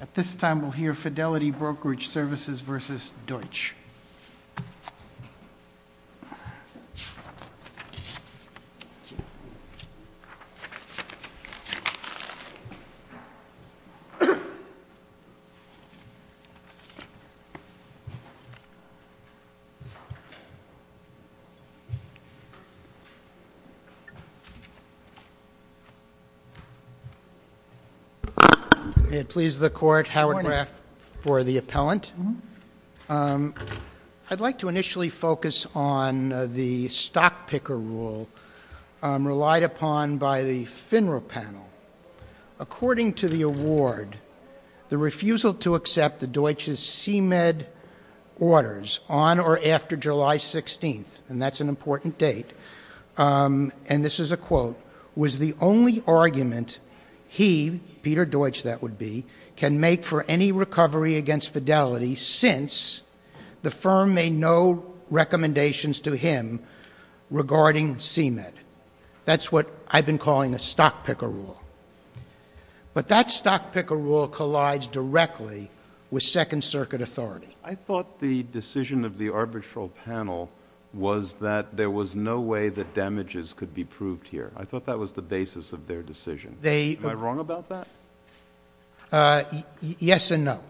At this time, we'll hear Fidelity Brokerage Services versus Deutsch. May it please the Court, Howard Graf for the appellant. I'd like to initially focus on the stock picker rule relied upon by the FINRA panel. According to the award, the refusal to accept the Deutsch's CMED orders on or after July 16th, and that's an important date, and this is a quote, was the only argument he, Peter Deutsch that would be, can make for any recovery against Fidelity since the firm made no recommendations to him regarding CMED. That's what I've been calling a stock picker rule. But that stock picker rule collides directly with Second Circuit authority. I thought the decision of the arbitral panel was that there was no way that damages could be proved here. I thought that was the basis of their decision. Am I wrong about that? Yes and no.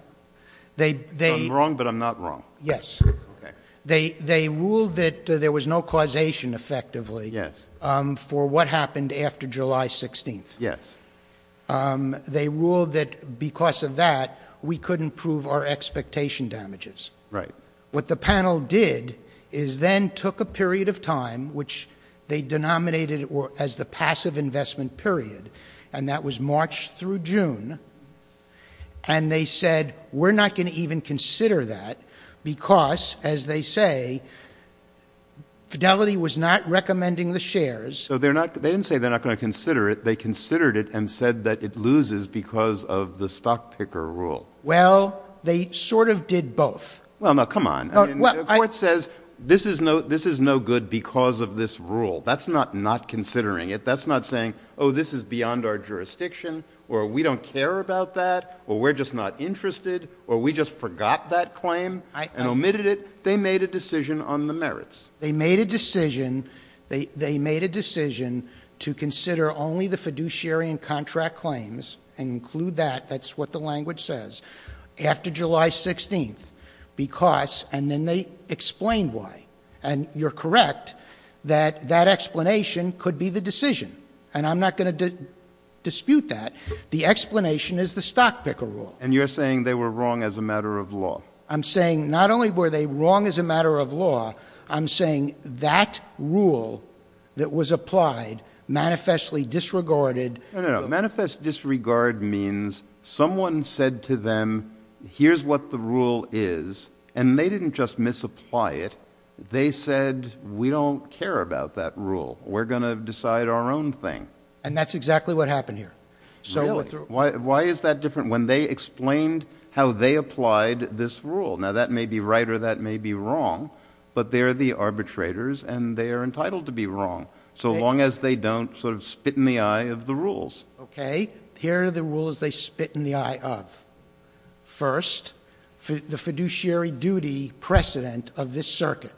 I'm wrong, but I'm not wrong. Yes. Okay. They ruled that there was no causation, effectively, for what happened after July 16th. Yes. They ruled that because of that, we couldn't prove our expectation damages. Right. What the panel did is then took a period of time, which they denominated as the passive investment period, and that was March through June, and they said, we're not going to even consider that because, as they say, Fidelity was not recommending the shares. So they didn't say they're not going to consider it. They considered it and said that it loses because of the stock picker rule. Well, they sort of did both. Well, no, come on. The court says this is no good because of this rule. That's not not considering it. That's not saying, oh, this is beyond our jurisdiction, or we don't care about that, or we're just not interested, or we just forgot that claim and omitted it. They made a decision on the merits. They made a decision. They made a decision to consider only the fiduciary and contract claims and include that. That's what the language says. After July 16th, because, and then they explained why. And you're correct that that explanation could be the decision. And I'm not going to dispute that. The explanation is the stock picker rule. And you're saying they were wrong as a matter of law. I'm saying not only were they wrong as a matter of law, I'm saying that rule that was applied manifestly disregarded. No, no, no. Manifest disregard means someone said to them, here's what the rule is, and they didn't just misapply it. They said, we don't care about that rule. We're going to decide our own thing. And that's exactly what happened here. Really? Why is that different? When they explained how they applied this rule. Now, that may be right or that may be wrong. But they're the arbitrators, and they are entitled to be wrong. So long as they don't sort of spit in the eye of the rules. Okay. Here are the rules they spit in the eye of. First, the fiduciary duty precedent of this circuit.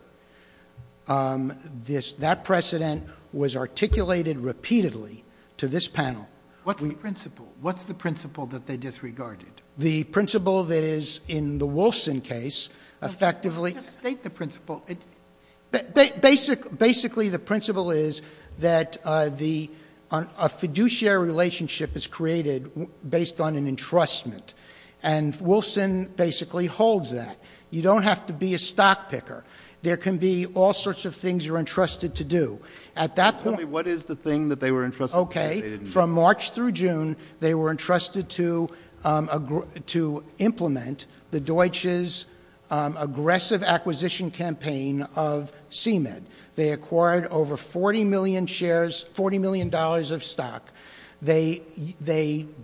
That precedent was articulated repeatedly to this panel. What's the principle? What's the principle that they disregarded? The principle that is in the Wolfson case effectively. Just state the principle. Basically, the principle is that a fiduciary relationship is created based on an entrustment. And Wolfson basically holds that. You don't have to be a stock picker. There can be all sorts of things you're entrusted to do. At that point. Tell me what is the thing that they were entrusted to do. Okay. From March through June, they were entrusted to implement the Deutsch's aggressive acquisition campaign of CMEB. They acquired over 40 million shares, $40 million of stock. They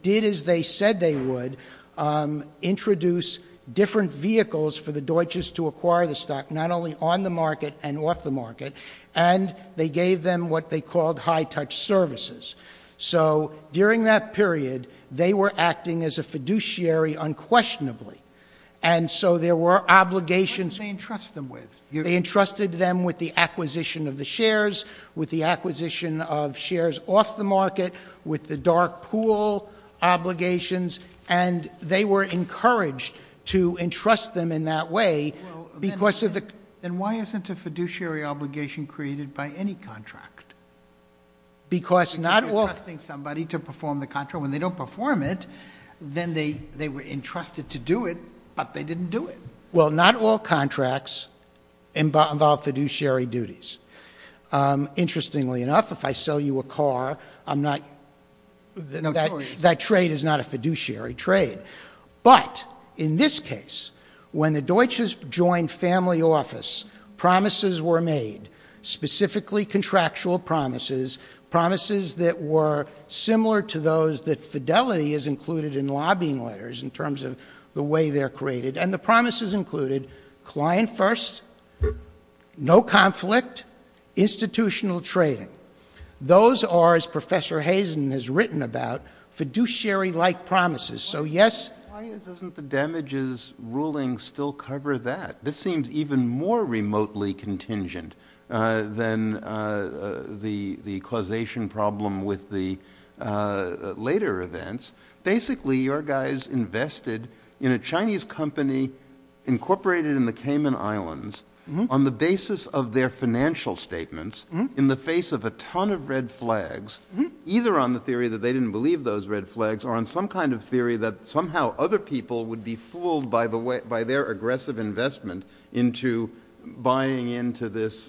did as they said they would. Introduce different vehicles for the Deutsch's to acquire the stock. And they gave them what they called high-touch services. So during that period, they were acting as a fiduciary unquestionably. And so there were obligations. What did they entrust them with? They entrusted them with the acquisition of the shares, with the acquisition of shares off the market, with the dark pool obligations. And they were encouraged to entrust them in that way because of the. Then why isn't a fiduciary obligation created by any contract? Because not all. You're entrusting somebody to perform the contract. When they don't perform it, then they were entrusted to do it, but they didn't do it. Well, not all contracts involve fiduciary duties. Interestingly enough, if I sell you a car, I'm not. Notorious. That trade is not a fiduciary trade. But in this case, when the Deutsch's joined family office, promises were made, specifically contractual promises. Promises that were similar to those that fidelity is included in lobbying letters in terms of the way they're created. And the promises included client first, no conflict, institutional trading. Those are, as Professor Hazen has written about, fiduciary-like promises. Why doesn't the damages ruling still cover that? This seems even more remotely contingent than the causation problem with the later events. Basically, your guys invested in a Chinese company incorporated in the Cayman Islands on the basis of their financial statements in the face of a ton of red flags, either on the theory that they didn't believe those red flags or on some kind of theory that somehow other people would be fooled by their aggressive investment into buying into this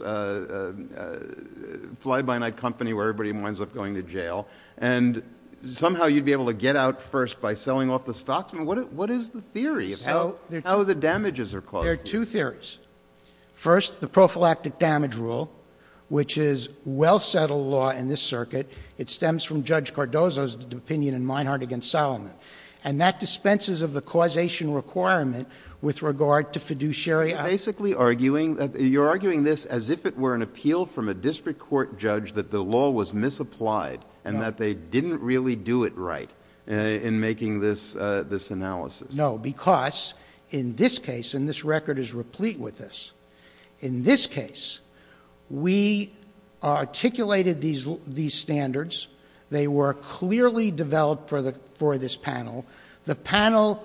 fly-by-night company where everybody winds up going to jail. And somehow you'd be able to get out first by selling off the stocks. What is the theory of how the damages are caused? There are two theories. First, the prophylactic damage rule, which is well-settled law in this circuit. It stems from Judge Cardozo's opinion in Meinhardt v. Solomon. And that dispenses of the causation requirement with regard to fiduciary action. You're arguing this as if it were an appeal from a district court judge that the law was misapplied and that they didn't really do it right in making this analysis. No, because in this case, and this record is replete with this, in this case, we articulated these standards. They were clearly developed for this panel. The panel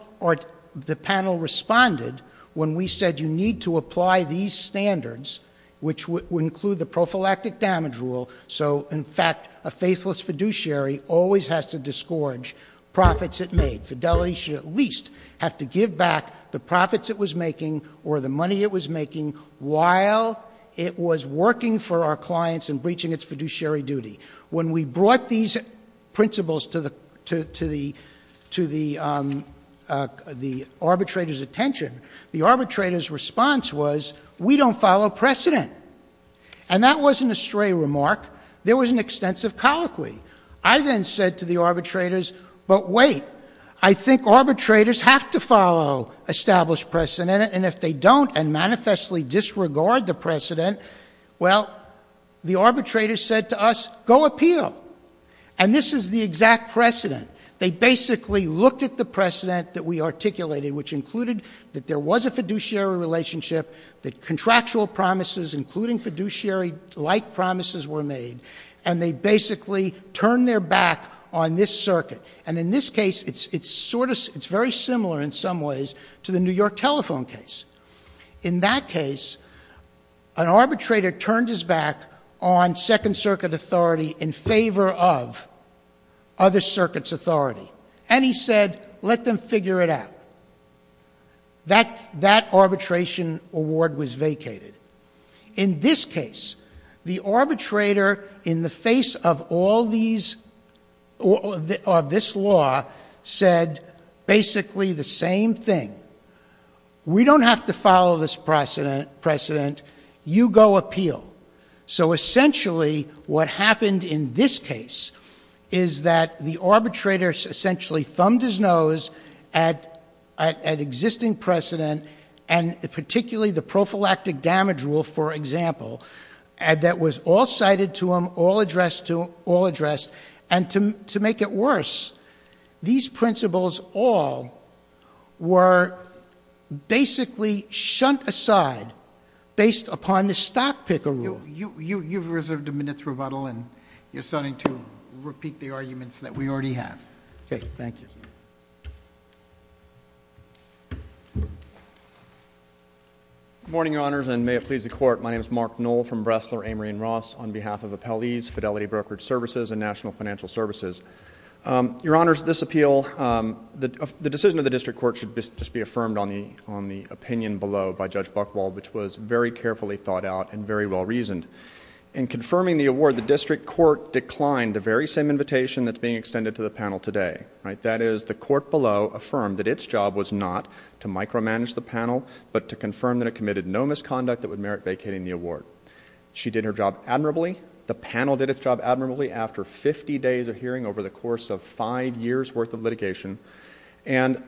responded when we said you need to apply these standards, which would include the prophylactic damage rule. So, in fact, a faithless fiduciary always has to disgorge profits it made. Fidelity should at least have to give back the profits it was making or the money it was making while it was working for our clients and breaching its fiduciary duty. When we brought these principles to the arbitrator's attention, the arbitrator's response was we don't follow precedent. And that wasn't a stray remark. There was an extensive colloquy. I then said to the arbitrators, but wait, I think arbitrators have to follow established precedent. And if they don't and manifestly disregard the precedent, well, the arbitrator said to us, go appeal. And this is the exact precedent. They basically looked at the precedent that we articulated, which included that there was a fiduciary relationship, that contractual promises, including fiduciary-like promises, were made. And they basically turned their back on this circuit. And in this case, it's very similar in some ways to the New York telephone case. In that case, an arbitrator turned his back on Second Circuit authority in favor of other circuits' authority. And he said, let them figure it out. That arbitration award was vacated. In this case, the arbitrator, in the face of all these, of this law, said basically the same thing. We don't have to follow this precedent. You go appeal. So essentially, what happened in this case is that the arbitrator essentially thumbed his nose at existing precedent, and particularly the prophylactic damage rule, for example, that was all cited to him, all addressed, and to make it worse, these principles all were basically shunned aside based upon the stock picker rule. You've reserved a minute's rebuttal, and you're starting to repeat the arguments that we already have. Okay, thank you. Good morning, Your Honors, and may it please the Court. My name is Mark Knoll from Bressler Amory & Ross on behalf of Appellees, Fidelity Brokerage Services, and National Financial Services. Your Honors, this appeal, the decision of the district court should just be affirmed on the opinion below by Judge Buchwald, which was very carefully thought out and very well reasoned. In confirming the award, the district court declined the very same invitation that's being extended to the panel today. That is, the court below affirmed that its job was not to micromanage the panel, but to confirm that it committed no misconduct that would merit vacating the award. She did her job admirably. The panel did its job admirably after 50 days of hearing over the course of five years' worth of litigation. And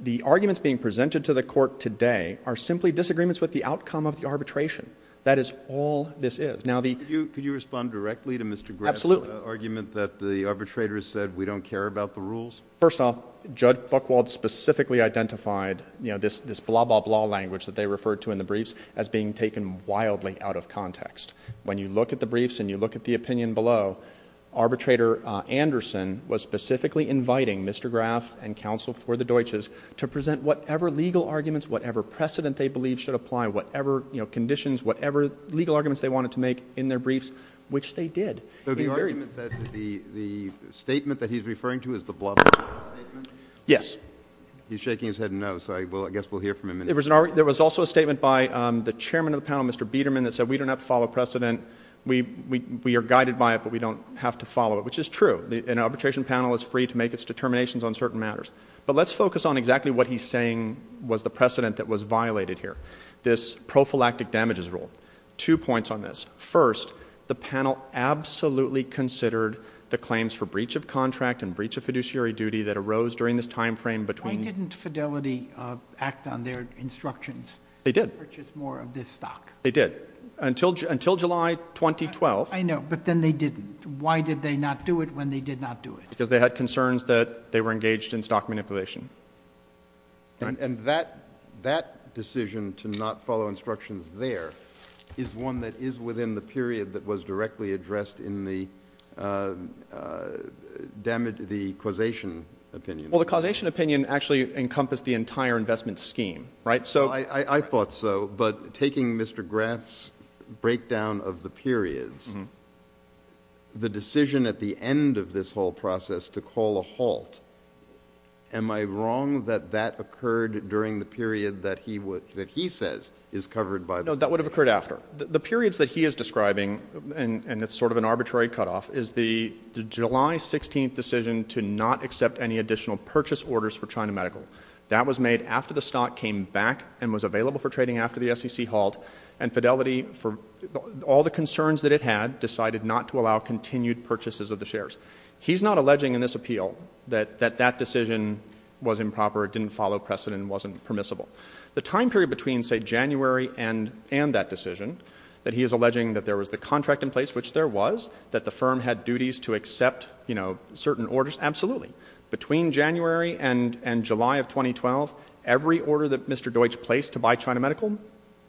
the arguments being presented to the court today are simply disagreements with the outcome of the arbitration. That is all this is. Could you respond directly to Mr. Grant's argument that the arbitrators said we don't care about the rules? First off, Judge Buchwald specifically identified this blah-blah-blah language that they referred to in the briefs as being taken wildly out of context. When you look at the briefs and you look at the opinion below, Arbitrator Anderson was specifically inviting Mr. Graf and counsel for the Deutsches to present whatever legal arguments, whatever precedent they believe should apply, whatever conditions, whatever legal arguments they wanted to make in their briefs, which they did. The argument that the statement that he's referring to is the blah-blah-blah statement? Yes. He's shaking his head no, so I guess we'll hear from him in a minute. There was also a statement by the chairman of the panel, Mr. Biederman, that said we don't have to follow precedent. We are guided by it, but we don't have to follow it, which is true. An arbitration panel is free to make its determinations on certain matters. But let's focus on exactly what he's saying was the precedent that was violated here, this prophylactic damages rule. Two points on this. First, the panel absolutely considered the claims for breach of contract and breach of fiduciary duty that arose during this timeframe between Why didn't Fidelity act on their instructions? They did. To purchase more of this stock. They did. Until July 2012. I know. But then they didn't. Why did they not do it when they did not do it? Because they had concerns that they were engaged in stock manipulation. And that decision to not follow instructions there is one that is within the period that was directly addressed in the causation opinion. Well, the causation opinion actually encompassed the entire investment scheme, right? I thought so. But taking Mr. Graff's breakdown of the periods, the decision at the end of this whole process to call a halt, am I wrong that that occurred during the period that he says is covered by the No, that would have occurred after. The periods that he is describing, and it's sort of an arbitrary cutoff, is the July 16th decision to not accept any additional purchase orders for China Medical. That was made after the stock came back and was available for trading after the SEC halt, and Fidelity, for all the concerns that it had, decided not to allow continued purchases of the shares. He's not alleging in this appeal that that decision was improper, it didn't follow precedent, it wasn't permissible. The time period between, say, January and that decision, that he is alleging that there was the contract in place, which there was, that the firm had duties to accept certain orders, absolutely. Between January and July of 2012, every order that Mr. Deutsch placed to buy China Medical,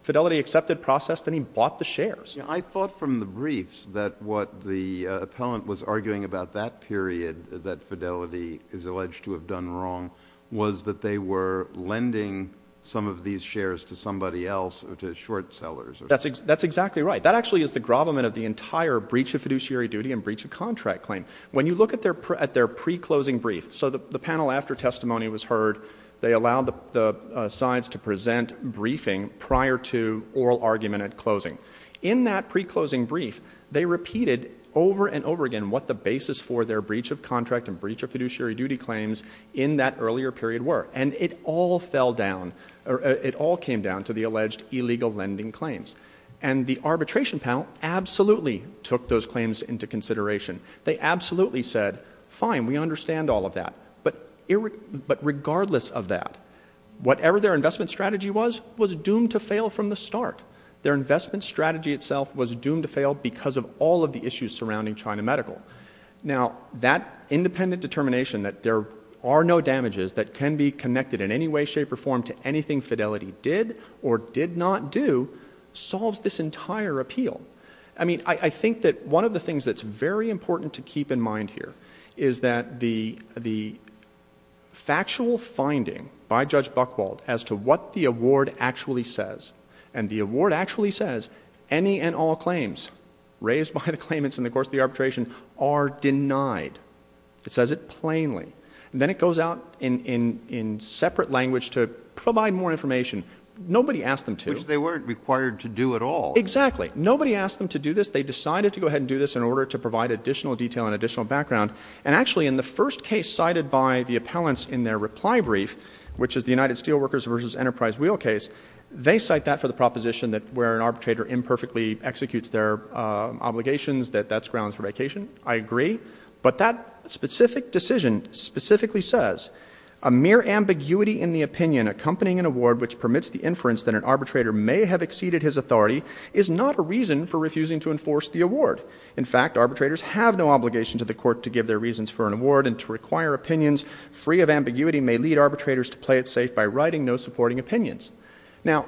Fidelity accepted, processed, and he bought the shares. I thought from the briefs that what the appellant was arguing about that period that Fidelity is alleged to have done wrong was that they were lending some of these shares to somebody else, to short sellers. That's exactly right. That actually is the grovelment of the entire breach of fiduciary duty and breach of contract claim. When you look at their pre-closing brief, so the panel after testimony was heard, they allowed the sides to present briefing prior to oral argument at closing. In that pre-closing brief, they repeated over and over again what the basis for their breach of contract and breach of fiduciary duty claims in that earlier period were. And it all fell down, it all came down to the alleged illegal lending claims. And the arbitration panel absolutely took those claims into consideration. They absolutely said, fine, we understand all of that. But regardless of that, whatever their investment strategy was, was doomed to fail from the start. Their investment strategy itself was doomed to fail because of all of the issues surrounding China Medical. Now, that independent determination that there are no damages that can be connected in any way, shape, or form to anything Fidelity did or did not do solves this entire appeal. I mean, I think that one of the things that's very important to keep in mind here is that the factual finding by Judge Buchwald as to what the award actually says. And the award actually says any and all claims raised by the claimants in the course of the arbitration are denied. It says it plainly. And then it goes out in separate language to provide more information. Nobody asked them to. Which they weren't required to do at all. Exactly. Nobody asked them to do this. They decided to go ahead and do this in order to provide additional detail and additional background. And actually, in the first case cited by the appellants in their reply brief, which is the United Steelworkers v. Enterprise Wheel case, they cite that for the proposition that where an arbitrator imperfectly executes their obligations, that that's grounds for vacation. I agree. But that specific decision specifically says, a mere ambiguity in the opinion accompanying an award which permits the inference that an arbitrator may have exceeded his authority is not a reason for refusing to enforce the award. In fact, arbitrators have no obligation to the court to give their reasons for an award and to require opinions free of ambiguity may lead arbitrators to play it safe by writing no supporting opinions. Now,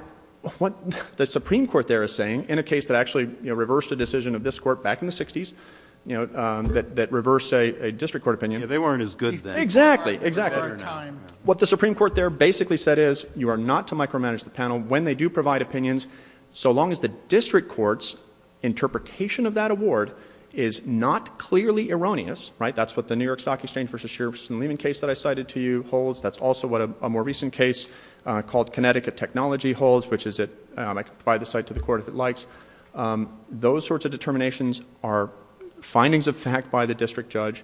what the Supreme Court there is saying, in a case that actually reversed a decision of this court back in the 60s, you know, that reversed a district court opinion. Yeah, they weren't as good then. Exactly. Exactly. What the Supreme Court there basically said is, you are not to micromanage the panel when they do provide opinions so long as the district court's interpretation of that award is not clearly erroneous. Right? That's what the New York Stock Exchange v. Shearson-Lehman case that I cited to you holds. That's also what a more recent case called Connecticut Technology holds, which is at, I can provide the site to the court if it likes. Those sorts of determinations are findings of fact by the district judge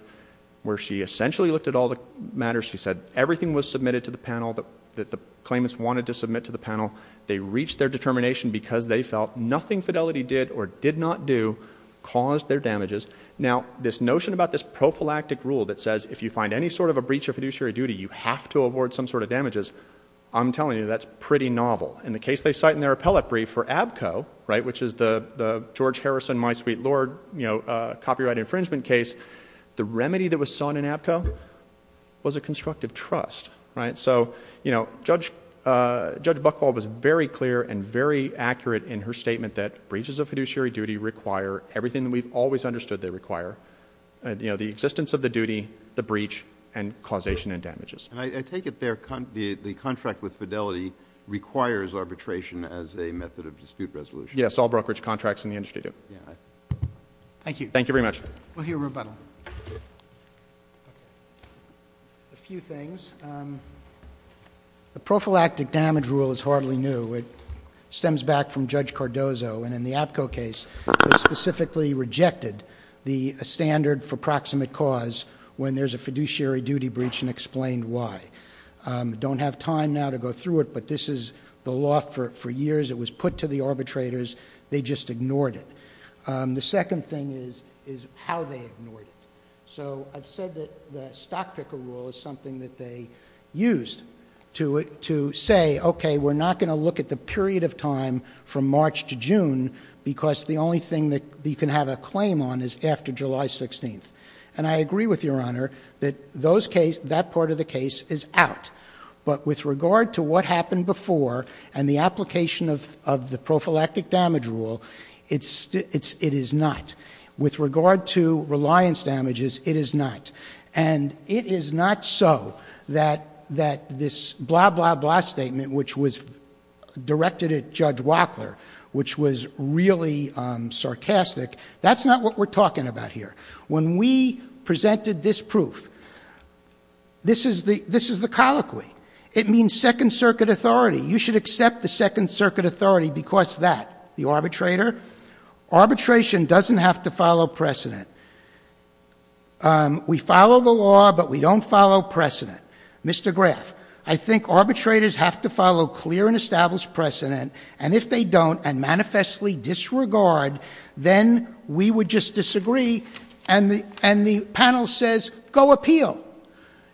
where she essentially looked at all the matters. She said everything was submitted to the panel that the claimants wanted to submit to the panel. They reached their determination because they felt nothing Fidelity did or did not do caused their damages. Now, this notion about this prophylactic rule that says if you find any sort of a breach of fiduciary duty, you have to award some sort of damages, I'm telling you, that's pretty novel. In the case they cite in their appellate brief for ABCO, right, which is the George Harrison, my sweet lord, you know, copyright infringement case, the remedy that was sought in ABCO was a constructive trust. So, you know, Judge Buchwald was very clear and very accurate in her statement that breaches of fiduciary duty require everything that we've always understood they require, you know, the existence of the duty, the breach, and causation and damages. And I take it the contract with Fidelity requires arbitration as a method of dispute resolution. Yes, all brokerage contracts in the industry do. Thank you. Thank you very much. We'll hear rebuttal. A few things. The prophylactic damage rule is hardly new. It stems back from Judge Cardozo. And in the ABCO case, they specifically rejected the standard for proximate cause when there's a fiduciary duty breach and explained why. Don't have time now to go through it, but this is the law for years. It was put to the arbitrators. They just ignored it. The second thing is how they ignored it. So I've said that the stock picker rule is something that they used to say, okay, we're not going to look at the period of time from March to June because the only thing that you can have a claim on is after July 16th. And I agree with Your Honor that that part of the case is out. But with regard to what happened before and the application of the prophylactic damage rule, it is not. With regard to reliance damages, it is not. And it is not so that this blah, blah, blah statement, which was directed at Judge Wachler, which was really sarcastic, that's not what we're talking about here. When we presented this proof, this is the colloquy. It means second circuit authority. You should accept the second circuit authority because that, the arbitrator. Arbitration doesn't have to follow precedent. We follow the law, but we don't follow precedent. Mr. Graf, I think arbitrators have to follow clear and established precedent. And if they don't and manifestly disregard, then we would just disagree. And the panel says go appeal.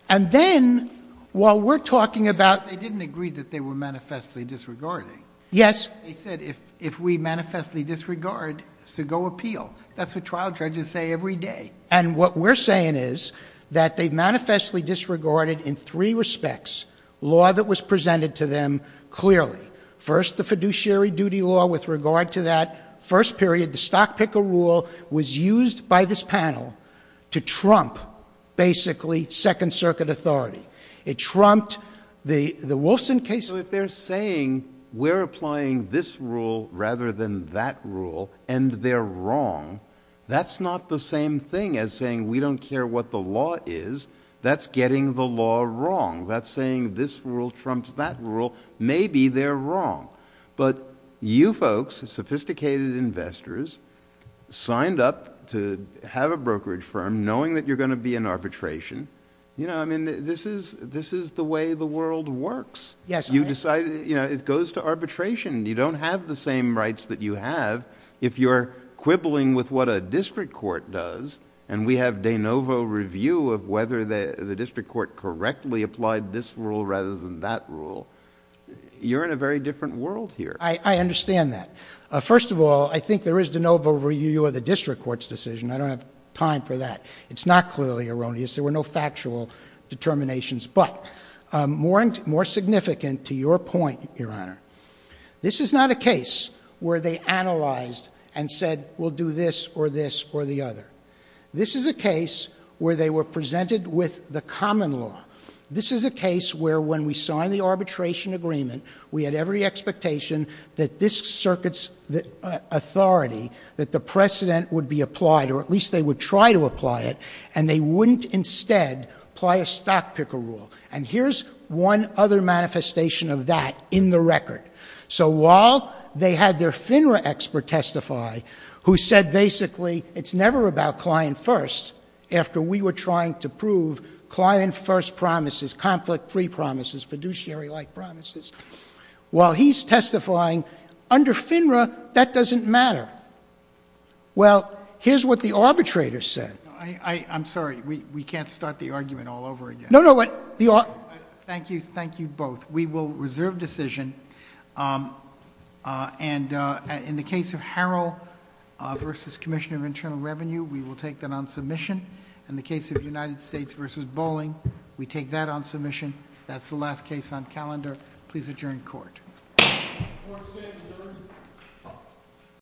And then while we're talking about- They didn't agree that they were manifestly disregarding. Yes. They said if we manifestly disregard, so go appeal. That's what trial judges say every day. And what we're saying is that they've manifestly disregarded in three respects law that was presented to them clearly. First, the fiduciary duty law with regard to that first period. The stock picker rule was used by this panel to trump basically second circuit authority. It trumped the Wolfson case. So if they're saying we're applying this rule rather than that rule and they're wrong, that's not the same thing as saying we don't care what the law is. That's getting the law wrong. That's saying this rule trumps that rule. Maybe they're wrong. But you folks, sophisticated investors, signed up to have a brokerage firm knowing that you're going to be in arbitration. You know, I mean, this is the way the world works. Yes. You decide, you know, it goes to arbitration. You don't have the same rights that you have if you're quibbling with what a district court does, and we have de novo review of whether the district court correctly applied this rule rather than that rule. You're in a very different world here. I understand that. First of all, I think there is de novo review of the district court's decision. I don't have time for that. It's not clearly erroneous. There were no factual determinations. But more significant to your point, Your Honor, this is not a case where they analyzed and said we'll do this or this or the other. This is a case where they were presented with the common law. This is a case where when we signed the arbitration agreement, we had every expectation that this circuit's authority, that the precedent would be applied, or at least they would try to apply it, and they wouldn't instead apply a stock picker rule. And here's one other manifestation of that in the record. So while they had their FINRA expert testify, who said basically it's never about client first, after we were trying to prove client first promises, conflict-free promises, fiduciary-like promises, while he's testifying, under FINRA, that doesn't matter. Well, here's what the arbitrator said. I'm sorry. We can't start the argument all over again. No, no. Thank you. Thank you both. We will reserve decision. And in the case of Harrell v. Commissioner of Internal Revenue, we will take that on submission. In the case of United States v. Bolling, we take that on submission. That's the last case on calendar. Please adjourn court.